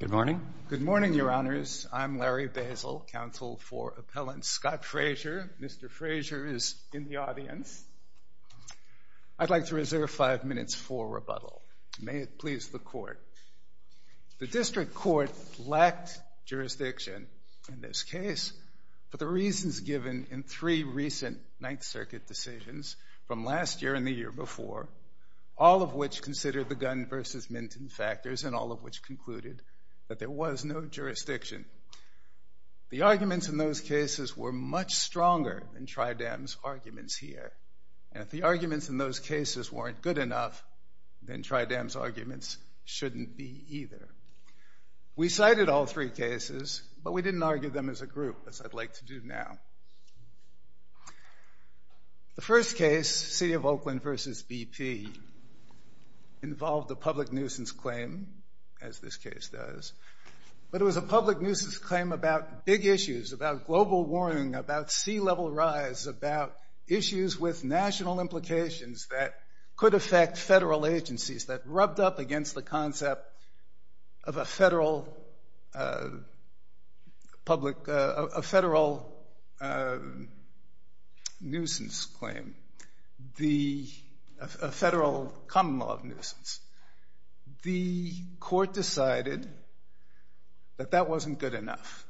Good morning, your honors. I'm Larry Basil, counsel for appellant Scott Frazier. Mr. Frazier is in the audience. I'd like to reserve five minutes for rebuttal. May it please the court. The district court lacked jurisdiction in this case for the reasons given in three recent Ninth Circuit decisions from last year and the year before, all of which considered the Gunn v. Minton factors to be the most important. And all of which concluded that there was no jurisdiction. The arguments in those cases were much stronger than Tri-Dam's arguments here. And if the arguments in those cases weren't good enough, then Tri-Dam's arguments shouldn't be either. We cited all three cases, but we didn't argue them as a group, as I'd like to do now. The first case, City of Oakland v. BP, involved a public nuisance claim, as this case does. But it was a public nuisance claim about big issues, about global warming, about sea level rise, about issues with national implications that could affect federal agencies, that rubbed up against the concept of a federal public, a federal nuisance claim. A federal common law nuisance. The court decided that that wasn't good enough.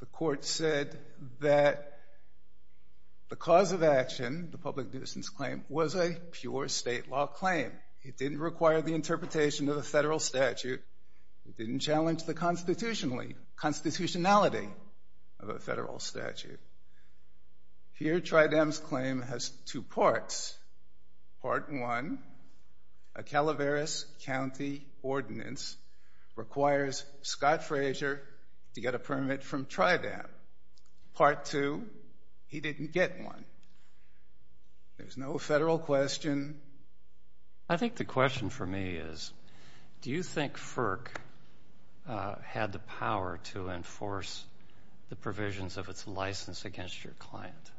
The court said that the cause of action, the public nuisance claim, was a pure state law claim. It didn't require the interpretation of a federal statute. It didn't challenge the constitutionality of a federal statute. Here, Tri-Dam's claim has two parts. Part one, a Calaveras County ordinance requires Scott Fraser to get a permit from Tri-Dam. Part two, he didn't get one. There's no federal question. I think the question for me is, do you think FERC had the power to enforce the provisions of its license against your client?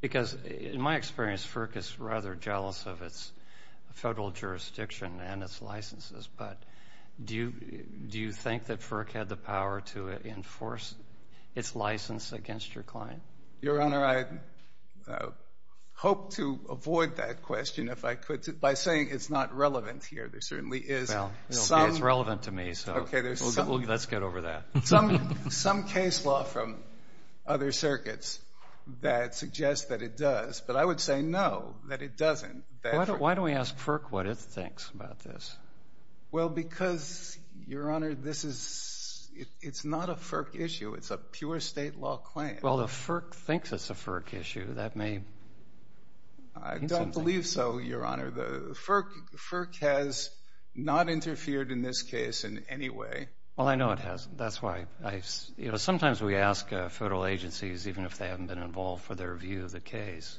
Because in my experience, FERC is rather jealous of its federal jurisdiction and its licenses, but do you think that FERC had the power to enforce its license against your client? Your Honor, I hope to avoid that question, if I could, by saying it's not relevant here. There certainly is some. Well, it's relevant to me, so let's get over that. Some case law from other circuits that suggest that it does, but I would say no, that it doesn't. Why don't we ask FERC what it thinks about this? Well, because, Your Honor, this is, it's not a FERC issue. It's a pure state law claim. Well, the FERC thinks it's a FERC issue. That may mean something. I don't believe so, Your Honor. The FERC has not interfered in this case in any way. Well, I know it hasn't. That's why I, you know, sometimes we ask federal agencies, even if they haven't been involved, for their view of the case.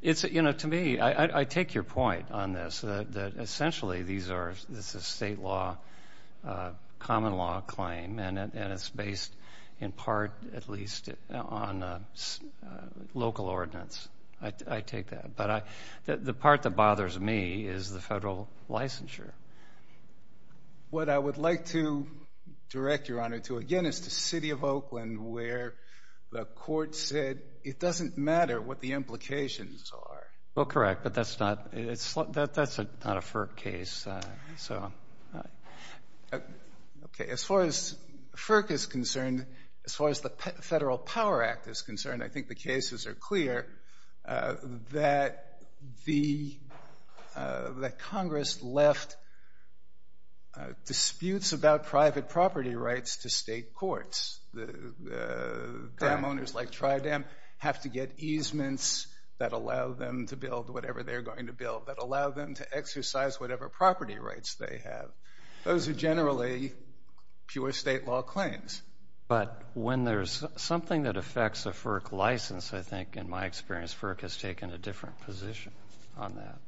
It's, you know, to me, I take your point on this, that essentially these are, this is a state law, common law claim, and it's based in part, at least, on local ordinance. I take that, but the part that bothers me is the federal licensure. What I would like to direct, Your Honor, to, again, is to City of Oakland, where the court said it doesn't matter what the implications are. Well, correct, but that's not, that's not a FERC case, so. Okay, as far as FERC is concerned, as far as the Federal Power Act is concerned, I think the cases are clear, that the, that Congress left disputes about private property rights to state courts. The dam owners, like Tri-Dam, have to get easements that allow them to build whatever they're going to build, that allow them to exercise whatever property rights they have. Those are generally pure state law claims. But when there's something that affects a FERC license, I think, in my experience, FERC has taken a different position on that.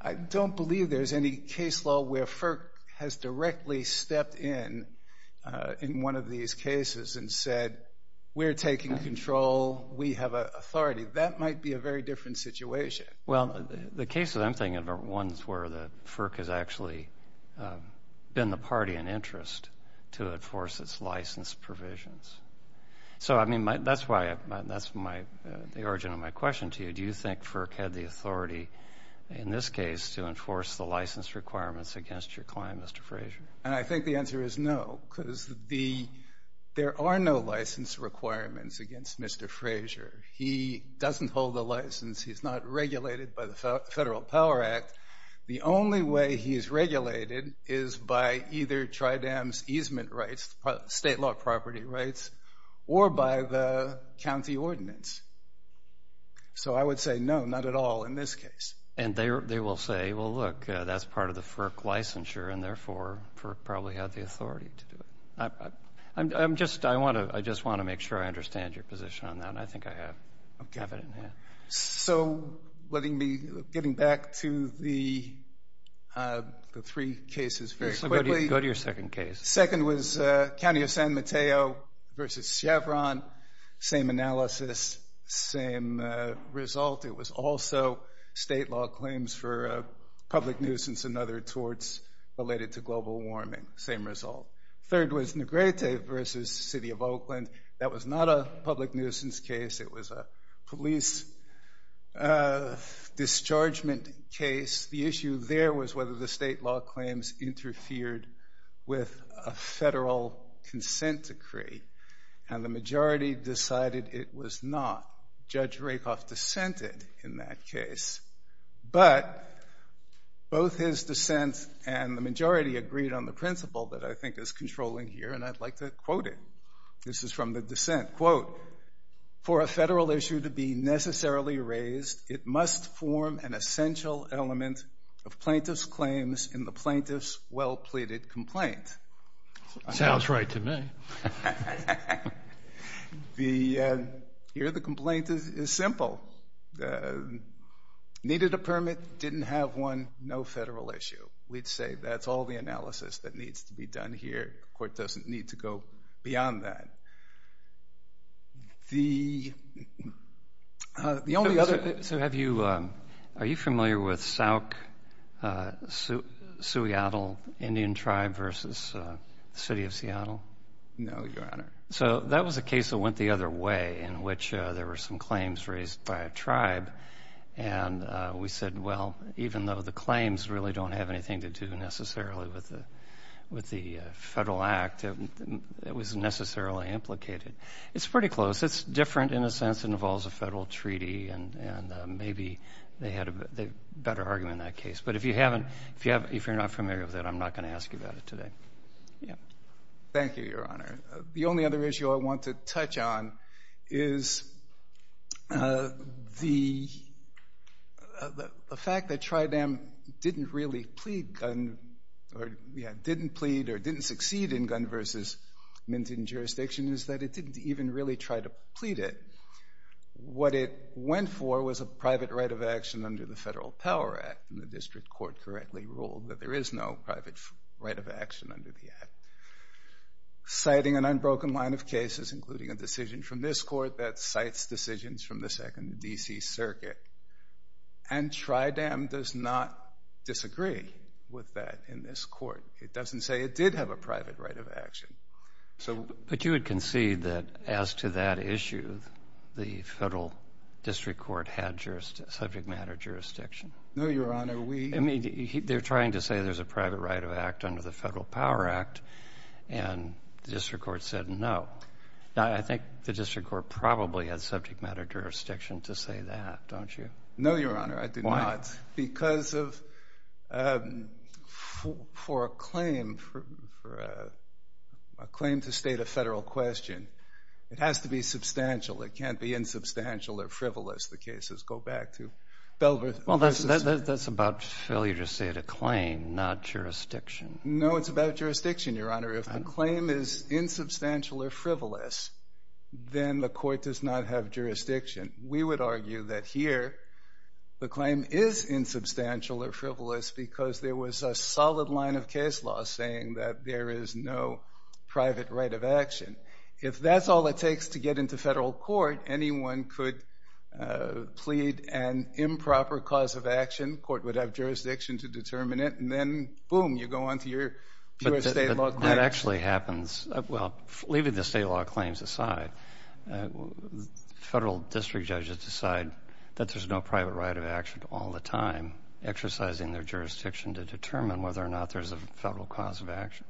I don't believe there's any case law where FERC has directly stepped in, in one of these cases, and said, we're taking control, we have authority. That might be a very different situation. Well, the cases I'm thinking of are ones where the, FERC has actually been the party in interest to enforce its license provisions. So, I mean, that's why, that's my, the origin of my question to you. Do you think FERC had the authority, in this case, to enforce the license requirements against your client, Mr. Frazier? And I think the answer is no, because the, there are no license requirements against Mr. Frazier. He doesn't hold a license. He's not regulated by the Federal Power Act. The only way he's regulated is by either TrIDEM's easement rights, state law property rights, or by the county ordinance. So I would say no, not at all in this case. And they will say, well, look, that's part of the FERC licensure, and therefore, FERC probably had the authority to do it. I'm just, I want to, I just want to make sure I understand your position on that, and I think I have it in hand. So, letting me, getting back to the three cases very quickly. Go to your second case. Second was County of San Mateo versus Chevron. Same analysis, same result. It was also state law claims for public nuisance and other torts related to global warming. Same result. Third was Negrete versus City of Oakland. That was not a public nuisance case. It was a police dischargement case. The issue there was whether the state law claims interfered with a federal consent decree. And the majority decided it was not. Judge Rakoff dissented in that case. But both his dissent and the majority agreed on the principle that I think is controlling here, and I'd like to quote it. This is from the dissent. Quote, for a federal issue to be necessarily raised, it must form an essential element of plaintiff's claims in the plaintiff's well-pleaded complaint. Sounds right to me. The, here the complaint is simple. Needed a permit, didn't have one, no federal issue. We'd say that's all the analysis that needs to be done here. The court doesn't need to go beyond that. The only other. So have you, are you familiar with Sauk-Suiatl Indian tribe versus City of Seattle? No, Your Honor. So that was a case that went the other way in which there were some claims raised by a tribe. And we said, well, even though the claims really don't have anything to do necessarily with the federal act, it wasn't necessarily implicated. It's pretty close. It's different in a sense. It involves a federal treaty, and maybe they had a better argument in that case. But if you haven't, if you're not familiar with it, I'm not going to ask you about it today. Thank you, Your Honor. The only other issue I want to touch on is the fact that TrIDAM didn't really plead, didn't plead or didn't succeed in gun versus minting jurisdiction is that it didn't even really try to plead it. What it went for was a private right of action under the Federal Power Act, and the district court correctly ruled that there is no private right of action under the act. Citing an unbroken line of cases, including a decision from this court, that cites decisions from the Second D.C. Circuit. And TrIDAM does not disagree with that in this court. It doesn't say it did have a private right of action. But you would concede that as to that issue, the federal district court had subject matter jurisdiction? No, Your Honor. I mean, they're trying to say there's a private right of act under the Federal Power Act, and the district court said no. I think the district court probably had subject matter jurisdiction to say that, don't you? No, Your Honor, I do not. Why? Because of, for a claim, for a claim to state a federal question, it has to be substantial. It can't be insubstantial or frivolous, the cases go back to. Well, that's about failure to state a claim, not jurisdiction. No, it's about jurisdiction, Your Honor. If the claim is insubstantial or frivolous, then the court does not have jurisdiction. We would argue that here the claim is insubstantial or frivolous because there was a solid line of case law saying that there is no private right of action. If that's all it takes to get into federal court, anyone could plead an improper cause of action. The court would have jurisdiction to determine it, and then, boom, you go on to your pure state law claim. But that actually happens. Well, leaving the state law claims aside, federal district judges decide that there's no private right of action all the time, exercising their jurisdiction to determine whether or not there's a federal cause of action.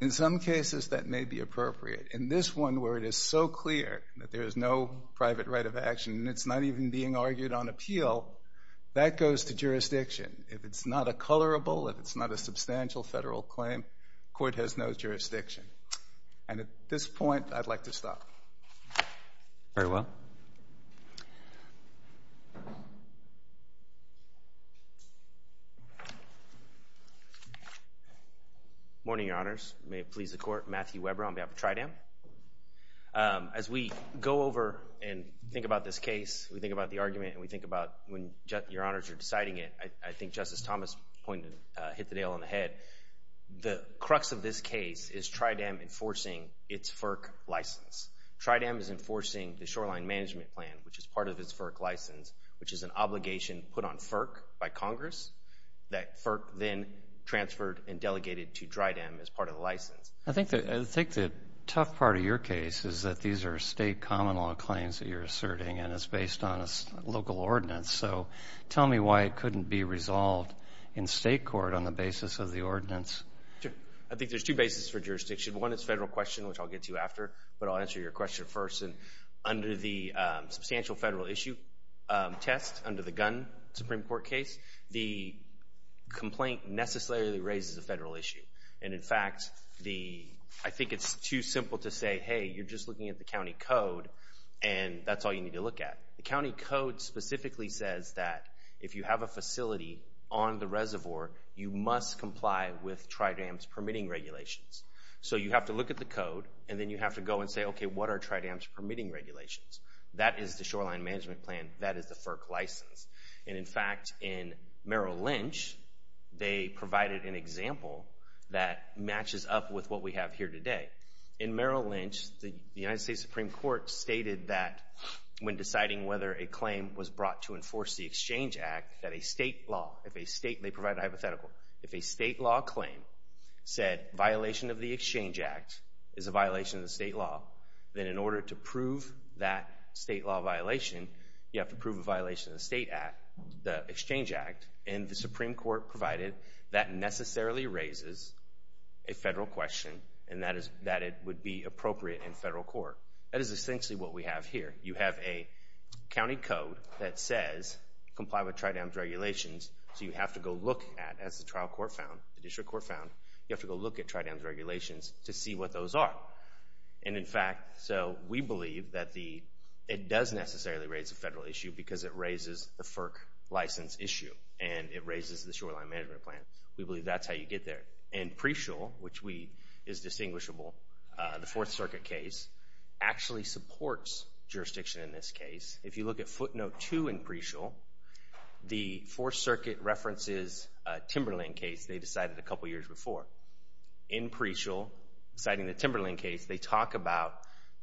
In some cases, that may be appropriate. In this one where it is so clear that there is no private right of action, and it's not even being argued on appeal, that goes to jurisdiction. If it's not a colorable, if it's not a substantial federal claim, court has no jurisdiction. And at this point, I'd like to stop. Very well. Good morning, Your Honors. May it please the Court. Matthew Weber on behalf of TrIDEM. As we go over and think about this case, we think about the argument, and we think about when Your Honors are deciding it, I think Justice Thomas hit the nail on the head. The crux of this case is TrIDEM enforcing its FERC license. TrIDEM is enforcing the Shoreline Management Plan, which is part of its FERC license, which is an obligation put on FERC by Congress that FERC then transferred and delegated to TrIDEM as part of the license. I think the tough part of your case is that these are state common law claims that you're asserting, and it's based on a local ordinance. So tell me why it couldn't be resolved in state court on the basis of the ordinance. I think there's two bases for jurisdiction. One is federal question, which I'll get to after, but I'll answer your question first. Under the substantial federal issue test, under the Gunn Supreme Court case, the complaint necessarily raises a federal issue. In fact, I think it's too simple to say, hey, you're just looking at the county code, and that's all you need to look at. The county code specifically says that if you have a facility on the reservoir, you must comply with TrIDEM's permitting regulations. So you have to look at the code, and then you have to go and say, okay, what are TrIDEM's permitting regulations? That is the shoreline management plan. That is the FERC license. In fact, in Merrill Lynch, they provided an example that matches up with what we have here today. In Merrill Lynch, the United States Supreme Court stated that when deciding whether a claim was brought to enforce the Exchange Act, that a state law, if a state, they provide a hypothetical, if a state law claim said violation of the Exchange Act is a violation of the state law, then in order to prove that state law violation, you have to prove a violation of the state act, the Exchange Act, and the Supreme Court provided that necessarily raises a federal question, and that it would be appropriate in federal court. That is essentially what we have here. You have a county code that says comply with TrIDEM's regulations, so you have to go look at, as the trial court found, the district court found, you have to go look at TrIDEM's regulations to see what those are. And, in fact, so we believe that it does necessarily raise a federal issue because it raises the FERC license issue, and it raises the shoreline management plan. We believe that's how you get there. In Preciel, which is distinguishable, the Fourth Circuit case actually supports jurisdiction in this case. If you look at footnote 2 in Preciel, the Fourth Circuit references a Timberland case they decided a couple years before. In Preciel, citing the Timberland case, they talk about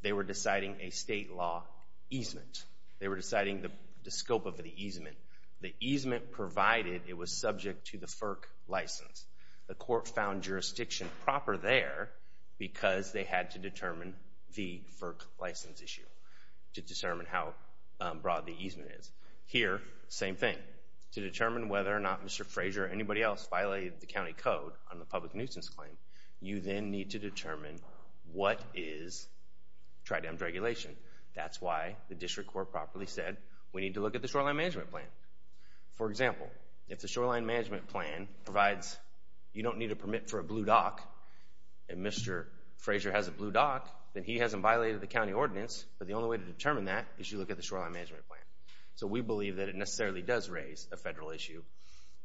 they were deciding a state law easement. They were deciding the scope of the easement. The easement provided it was subject to the FERC license. The court found jurisdiction proper there because they had to determine the FERC license issue to determine how broad the easement is. Here, same thing. To determine whether or not Mr. Frazier or anybody else violated the county code on the public nuisance claim, you then need to determine what is TrIDEM's regulation. That's why the district court properly said we need to look at the shoreline management plan. For example, if the shoreline management plan provides you don't need a permit for a blue dock and Mr. Frazier has a blue dock, then he hasn't violated the county ordinance, but the only way to determine that is you look at the shoreline management plan. So we believe that it necessarily does raise a federal issue.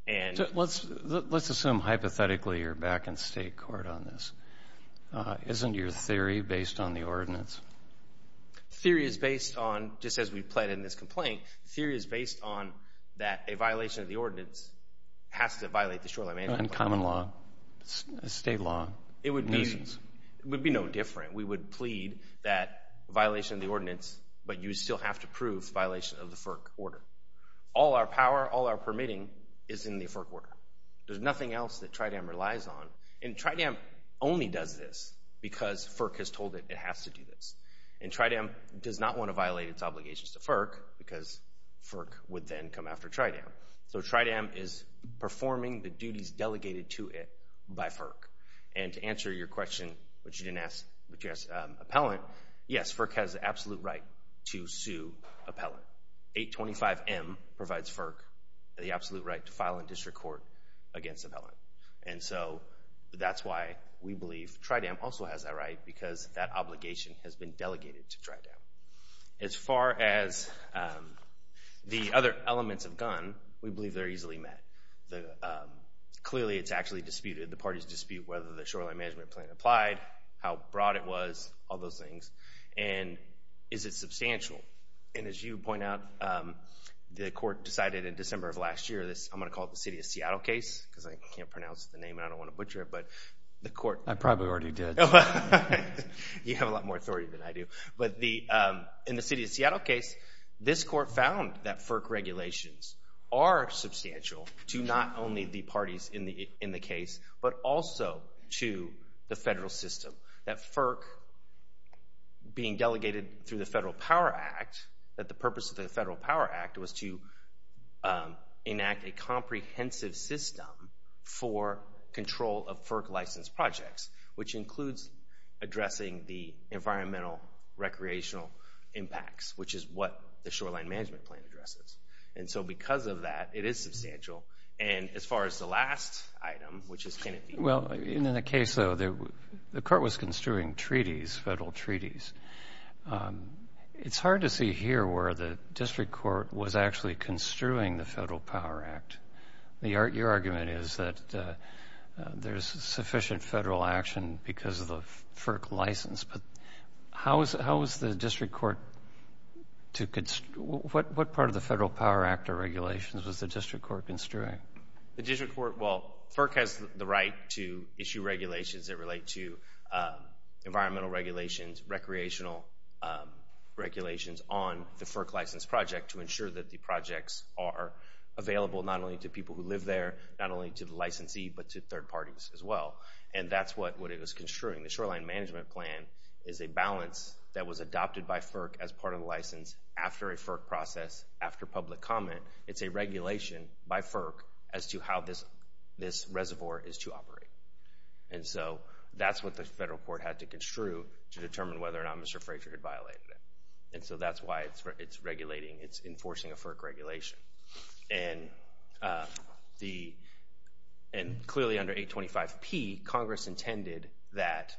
Let's assume hypothetically you're back in state court on this. Isn't your theory based on the ordinance? Theory is based on, just as we've played in this complaint, theory is based on that a violation of the ordinance has to violate the shoreline management plan. And common law, state law. It would be no different. We would plead that violation of the ordinance, but you still have to prove violation of the FERC order. All our power, all our permitting is in the FERC order. There's nothing else that TrIDEM relies on. And TrIDEM only does this because FERC has told it it has to do this. And TrIDEM does not want to violate its obligations to FERC because FERC would then come after TrIDEM. So TrIDEM is performing the duties delegated to it by FERC. And to answer your question, which you didn't ask, which you asked Appellant, yes, FERC has the absolute right to sue Appellant. 825M provides FERC the absolute right to file in district court against Appellant. And so that's why we believe TrIDEM also has that right because that obligation has been delegated to TrIDEM. As far as the other elements of GUN, we believe they're easily met. Clearly, it's actually disputed. The parties dispute whether the shoreline management plan applied, how broad it was, all those things. And is it substantial? And as you point out, the court decided in December of last year, I'm going to call it the City of Seattle case because I can't pronounce the name and I don't want to butcher it, but the court- I probably already did. You have a lot more authority than I do. But in the City of Seattle case, this court found that FERC regulations are substantial to not only the parties in the case, but also to the federal system, that FERC being delegated through the Federal Power Act, that the purpose of the Federal Power Act was to enact a comprehensive system for control of FERC licensed projects, which includes addressing the environmental recreational impacts, which is what the shoreline management plan addresses. And so because of that, it is substantial. And as far as the last item, which is Kennedy- Well, in the case, though, the court was construing treaties, federal treaties. It's hard to see here where the district court was actually construing the Federal Power Act. Your argument is that there's sufficient federal action because of the FERC license. But how was the district court to- What part of the Federal Power Act or regulations was the district court construing? The district court- Well, FERC has the right to issue regulations that relate to environmental regulations, recreational regulations on the FERC licensed project to ensure that the projects are available not only to people who live there, not only to the licensee, but to third parties as well. And that's what it was construing. The shoreline management plan is a balance that was adopted by FERC as part of the license after a FERC process, after public comment. It's a regulation by FERC as to how this reservoir is to operate. And so that's what the federal court had to construe to determine whether or not Mr. Fraser had violated it. And so that's why it's regulating, it's enforcing a FERC regulation. And clearly under 825P, Congress intended that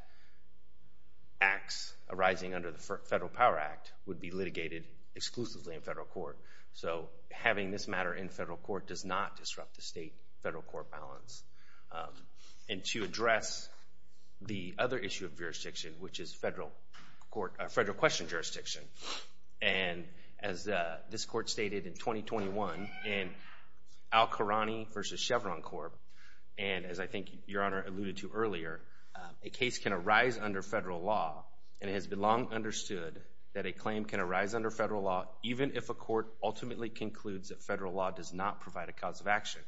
acts arising under the Federal Power Act would be litigated exclusively in federal court. So having this matter in federal court does not disrupt the state-federal court balance. And to address the other issue of jurisdiction, which is federal question jurisdiction, and as this court stated in 2021 in Al-Kharani v. Chevron Corp., and as I think Your Honor alluded to earlier, a case can arise under federal law, and it has been long understood that a claim can arise under federal law even if a court ultimately concludes that federal law does not provide a cause of action.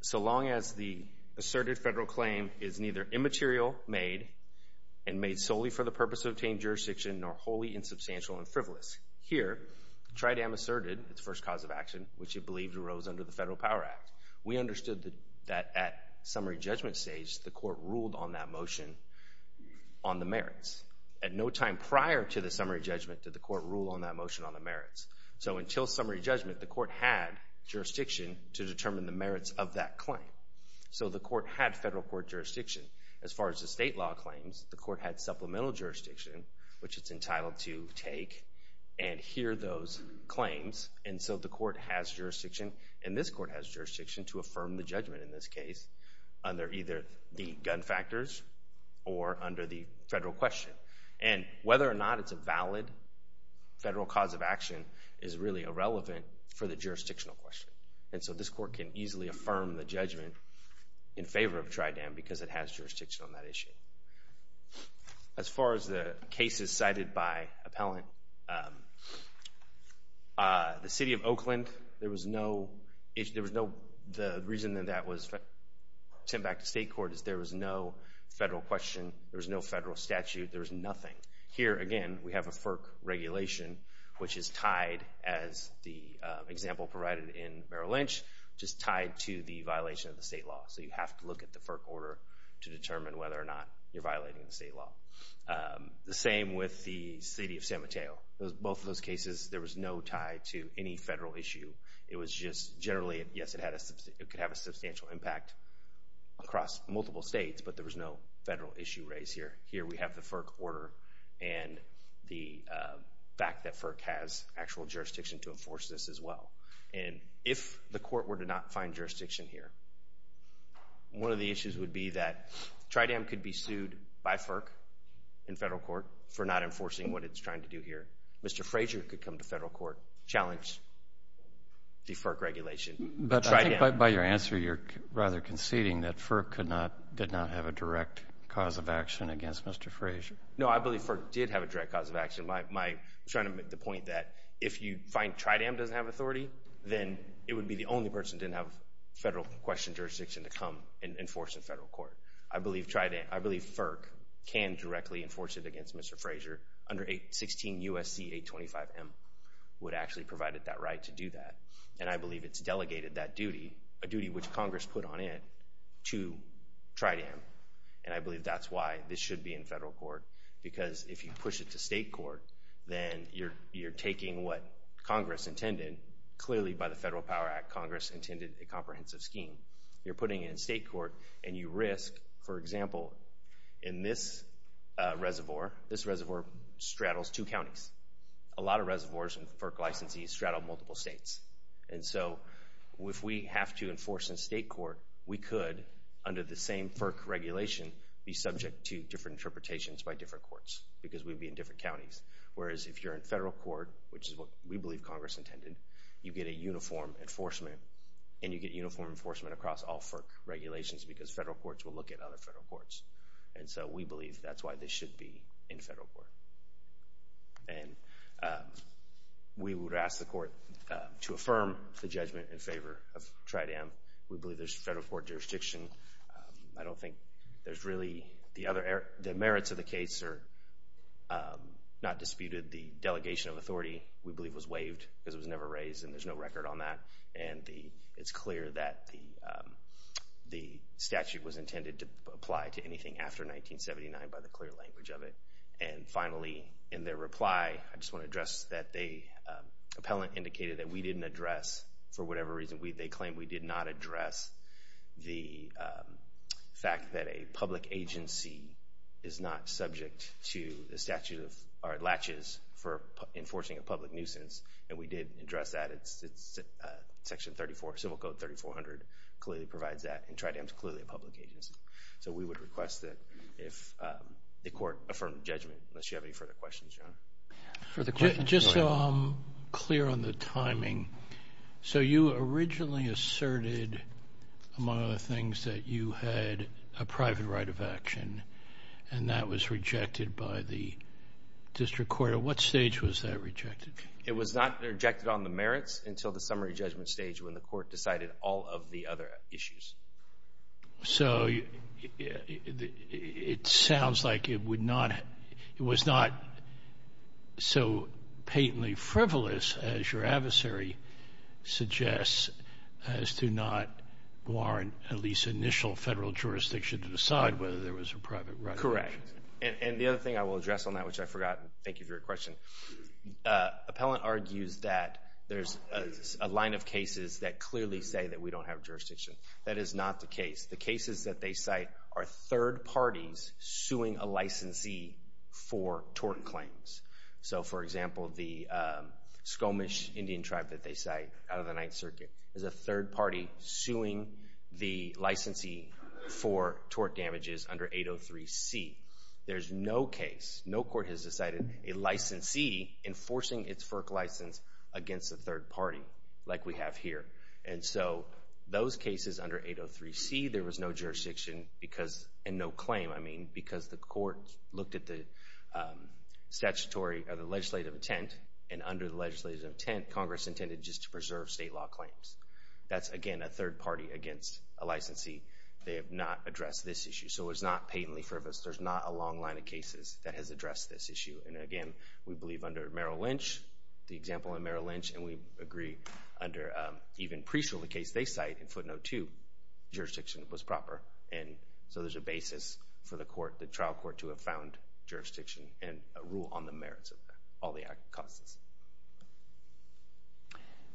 So long as the asserted federal claim is neither immaterial, made, and made solely for the purpose of obtaining jurisdiction, nor wholly insubstantial and frivolous. Here, Tridam asserted its first cause of action, which it believed arose under the Federal Power Act. We understood that at summary judgment stage, the court ruled on that motion on the merits. At no time prior to the summary judgment did the court rule on that motion on the merits. So until summary judgment, the court had jurisdiction to determine the merits of that claim. So the court had federal court jurisdiction. As far as the state law claims, the court had supplemental jurisdiction, which it's entitled to take and hear those claims. And so the court has jurisdiction, and this court has jurisdiction to affirm the judgment in this case, under either the gun factors or under the federal question. And whether or not it's a valid federal cause of action is really irrelevant for the jurisdictional question. And so this court can easily affirm the judgment in favor of Tridam because it has jurisdiction on that issue. As far as the cases cited by appellant, the City of Oakland, there was no – the reason that that was sent back to state court is there was no federal question, there was no federal statute, there was nothing. Here, again, we have a FERC regulation, which is tied, as the example provided in Merrill Lynch, just tied to the violation of the state law. So you have to look at the FERC order to determine whether or not you're violating the state law. The same with the City of San Mateo. Both of those cases, there was no tie to any federal issue. It was just generally, yes, it could have a substantial impact across multiple states, but there was no federal issue raised here. Here we have the FERC order and the fact that FERC has actual jurisdiction to enforce this as well. And if the court were to not find jurisdiction here, one of the issues would be that Tridam could be sued by FERC in federal court for not enforcing what it's trying to do here. Mr. Frazier could come to federal court, challenge the FERC regulation. But I think by your answer you're rather conceding that FERC did not have a direct cause of action against Mr. Frazier. No, I believe FERC did have a direct cause of action. I'm trying to make the point that if you find Tridam doesn't have authority, then it would be the only person that didn't have federal question jurisdiction to come and enforce in federal court. I believe FERC can directly enforce it against Mr. Frazier under 816 U.S.C. 825M would actually provide it that right to do that. And I believe it's delegated that duty, a duty which Congress put on it, to Tridam. And I believe that's why this should be in federal court because if you push it to state court, then you're taking what Congress intended. Clearly by the Federal Power Act, Congress intended a comprehensive scheme. You're putting it in state court and you risk, for example, in this reservoir. This reservoir straddles two counties. A lot of reservoirs and FERC licensees straddle multiple states. And so if we have to enforce in state court, we could under the same FERC regulation be subject to different interpretations by different courts because we'd be in different counties. Whereas if you're in federal court, which is what we believe Congress intended, you get a uniform enforcement and you get uniform enforcement across all FERC regulations because federal courts will look at other federal courts. And so we believe that's why this should be in federal court. And we would ask the court to affirm the judgment in favor of Tridam. We believe there's federal court jurisdiction. I don't think there's really the other merits of the case are not disputed. The delegation of authority, we believe, was waived because it was never raised and there's no record on that. And it's clear that the statute was intended to apply to anything after 1979 by the clear language of it. And finally, in their reply, I just want to address that the appellant indicated that we didn't address, for whatever reason, they claimed we did not address the fact that a public agency is not subject to the statute of or latches for enforcing a public nuisance. And we did address that. It's Section 34, Civil Code 3400 clearly provides that. And Tridam's clearly a public agency. So we would request that the court affirm judgment unless you have any further questions, Your Honor. Just so I'm clear on the timing, so you originally asserted, among other things, that you had a private right of action, and that was rejected by the district court. At what stage was that rejected? It was not rejected on the merits until the summary judgment stage when the court decided all of the other issues. So it sounds like it was not so patently frivolous, as your adversary suggests, as to not warrant at least initial federal jurisdiction to decide whether there was a private right of action. Correct. And the other thing I will address on that, which I forgot. Thank you for your question. Appellant argues that there's a line of cases that clearly say that we don't have jurisdiction. That is not the case. The cases that they cite are third parties suing a licensee for tort claims. So, for example, the Skomish Indian tribe that they cite out of the Ninth Circuit is a third party suing the licensee for tort damages under 803C. There's no case, no court has decided a licensee enforcing its FERC license against a third party like we have here. And so those cases under 803C, there was no jurisdiction and no claim, I mean, because the court looked at the statutory or the legislative intent, and under the legislative intent, Congress intended just to preserve state law claims. That's, again, a third party against a licensee. They have not addressed this issue, so it was not patently frivolous. There's not a long line of cases that has addressed this issue. And, again, we believe under Merrill Lynch, the example of Merrill Lynch, and we agree under even pre-trial the case they cite in footnote 2, jurisdiction was proper. And so there's a basis for the trial court to have found jurisdiction and a rule on the merits of all the act causes.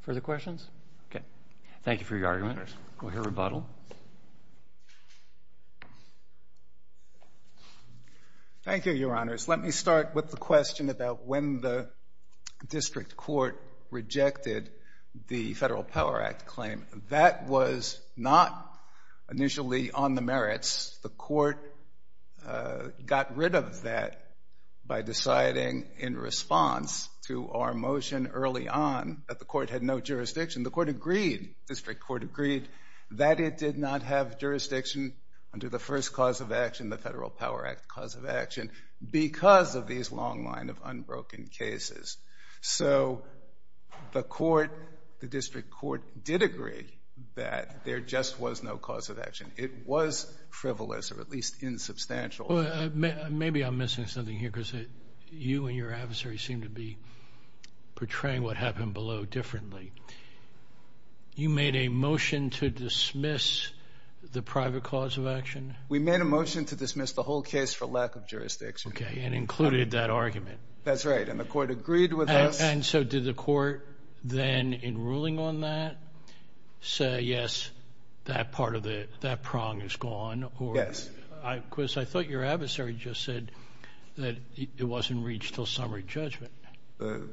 Further questions? Okay. Thank you for your argument. We'll hear rebuttal. Thank you, Your Honors. Let me start with the question about when the district court rejected the Federal Power Act claim. That was not initially on the merits. The court got rid of that by deciding in response to our motion early on that the court had no jurisdiction. The court agreed, district court agreed, that it did not have jurisdiction under the first cause of action, the Federal Power Act cause of action, because of these long line of unbroken cases. So the court, the district court, did agree that there just was no cause of action. It was frivolous, or at least insubstantial. Maybe I'm missing something here because you and your adversary seem to be portraying what happened below differently. You made a motion to dismiss the private cause of action? We made a motion to dismiss the whole case for lack of jurisdiction. Okay, and included that argument. That's right, and the court agreed with us. And so did the court then, in ruling on that, say, yes, that part of the, that prong is gone? Yes. Because I thought your adversary just said that it wasn't reached until summary judgment. The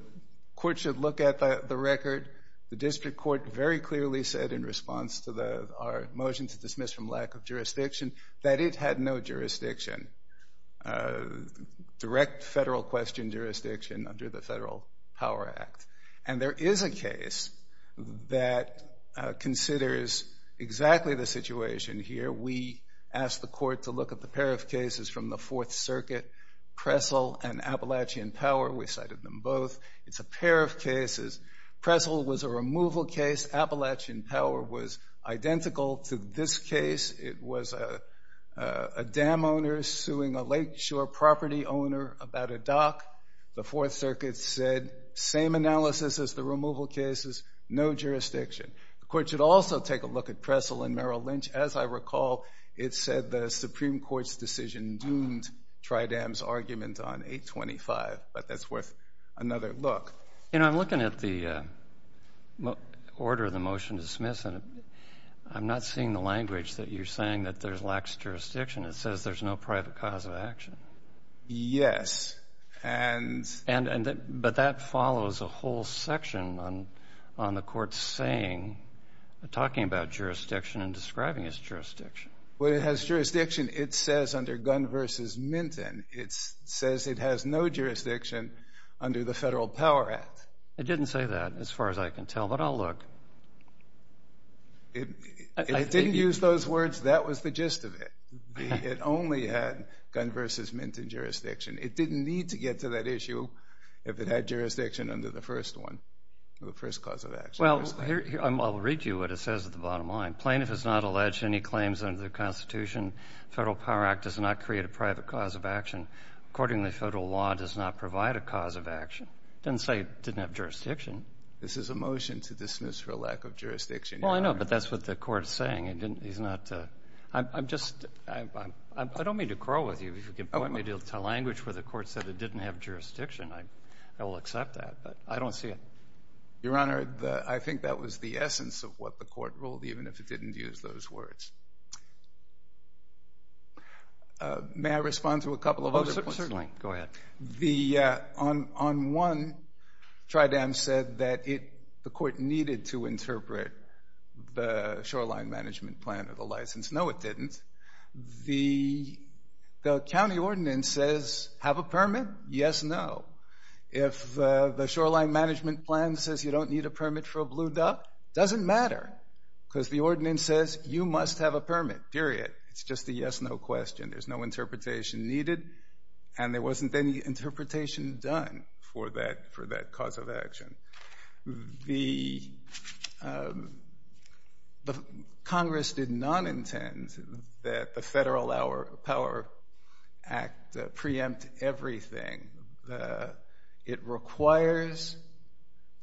court should look at the record. The district court very clearly said in response to our motion to dismiss from lack of jurisdiction that it had no jurisdiction, direct Federal question jurisdiction under the Federal Power Act. And there is a case that considers exactly the situation here. We asked the court to look at the pair of cases from the Fourth Circuit, Pressel and Appalachian Power. We cited them both. It's a pair of cases. Pressel was a removal case. Appalachian Power was identical to this case. It was a dam owner suing a lakeshore property owner about a dock. The Fourth Circuit said same analysis as the removal cases, no jurisdiction. The court should also take a look at Pressel and Merrill Lynch. As I recall, it said the Supreme Court's decision doomed Tridam's argument on 825, but that's worth another look. You know, I'm looking at the order of the motion to dismiss, and I'm not seeing the language that you're saying that there's lax jurisdiction. It says there's no private cause of action. Yes. But that follows a whole section on the court's saying, talking about jurisdiction and describing its jurisdiction. Well, it has jurisdiction. It says under Gunn v. Minton, it says it has no jurisdiction under the Federal Power Act. It didn't say that as far as I can tell, but I'll look. It didn't use those words. That was the gist of it. It only had Gunn v. Minton jurisdiction. It didn't need to get to that issue if it had jurisdiction under the first one, the first cause of action. Well, I'll read you what it says at the bottom line. Plaintiff has not alleged any claims under the Constitution. Federal Power Act does not create a private cause of action. Accordingly, federal law does not provide a cause of action. It didn't say it didn't have jurisdiction. This is a motion to dismiss for lack of jurisdiction. Well, I know, but that's what the court is saying. I don't mean to quarrel with you. If you can point me to a language where the court said it didn't have jurisdiction, I will accept that. But I don't see it. Your Honor, I think that was the essence of what the court ruled, even if it didn't use those words. May I respond to a couple of other points? Certainly. Go ahead. On one, Tridam said that the court needed to interpret the shoreline management plan or the license. No, it didn't. The county ordinance says have a permit, yes, no. If the shoreline management plan says you don't need a permit for a blue duck, it doesn't matter because the ordinance says you must have a permit, period. It's just a yes-no question. There's no interpretation needed. And there wasn't any interpretation done for that cause of action. Congress did not intend that the Federal Power Act preempt everything. It requires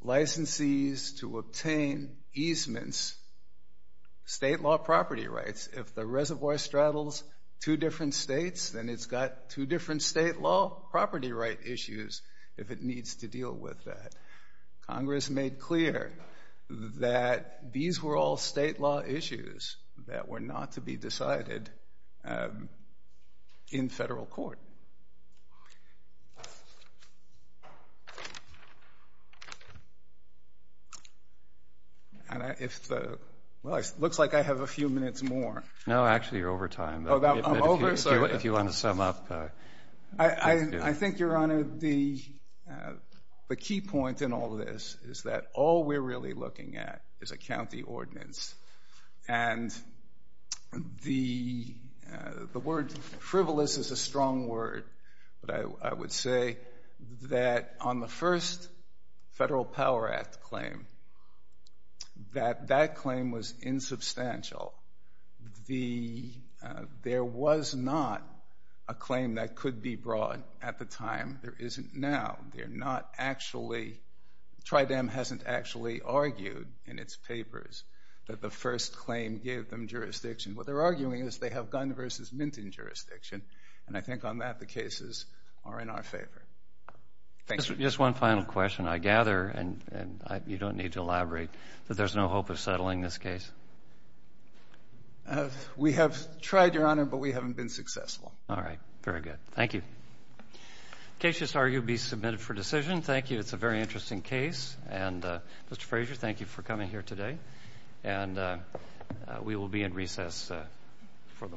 licensees to obtain easements, state law property rights. If the reservoir straddles two different states, then it's got two different state law property right issues if it needs to deal with that. Congress made clear that these were all state law issues that were not to be decided in federal court. Okay. Looks like I have a few minutes more. No, actually, you're over time. I'm over? If you want to sum up. I think, Your Honor, the key point in all this is that all we're really looking at is a county ordinance. And the word frivolous is a strong word, but I would say that on the first Federal Power Act claim, that that claim was insubstantial. There was not a claim that could be brought at the time. There isn't now. They're not actually, TrIDEM hasn't actually argued in its papers that the first claim gave them jurisdiction. What they're arguing is they have gun versus minting jurisdiction, and I think on that the cases are in our favor. Just one final question. I gather, and you don't need to elaborate, that there's no hope of settling this case. We have tried, Your Honor, but we haven't been successful. All right. Very good. Thank you. The case is argued to be submitted for decision. Thank you. It's a very interesting case. And, Mr. Fraser, thank you for coming here today. And we will be in recess for the morning.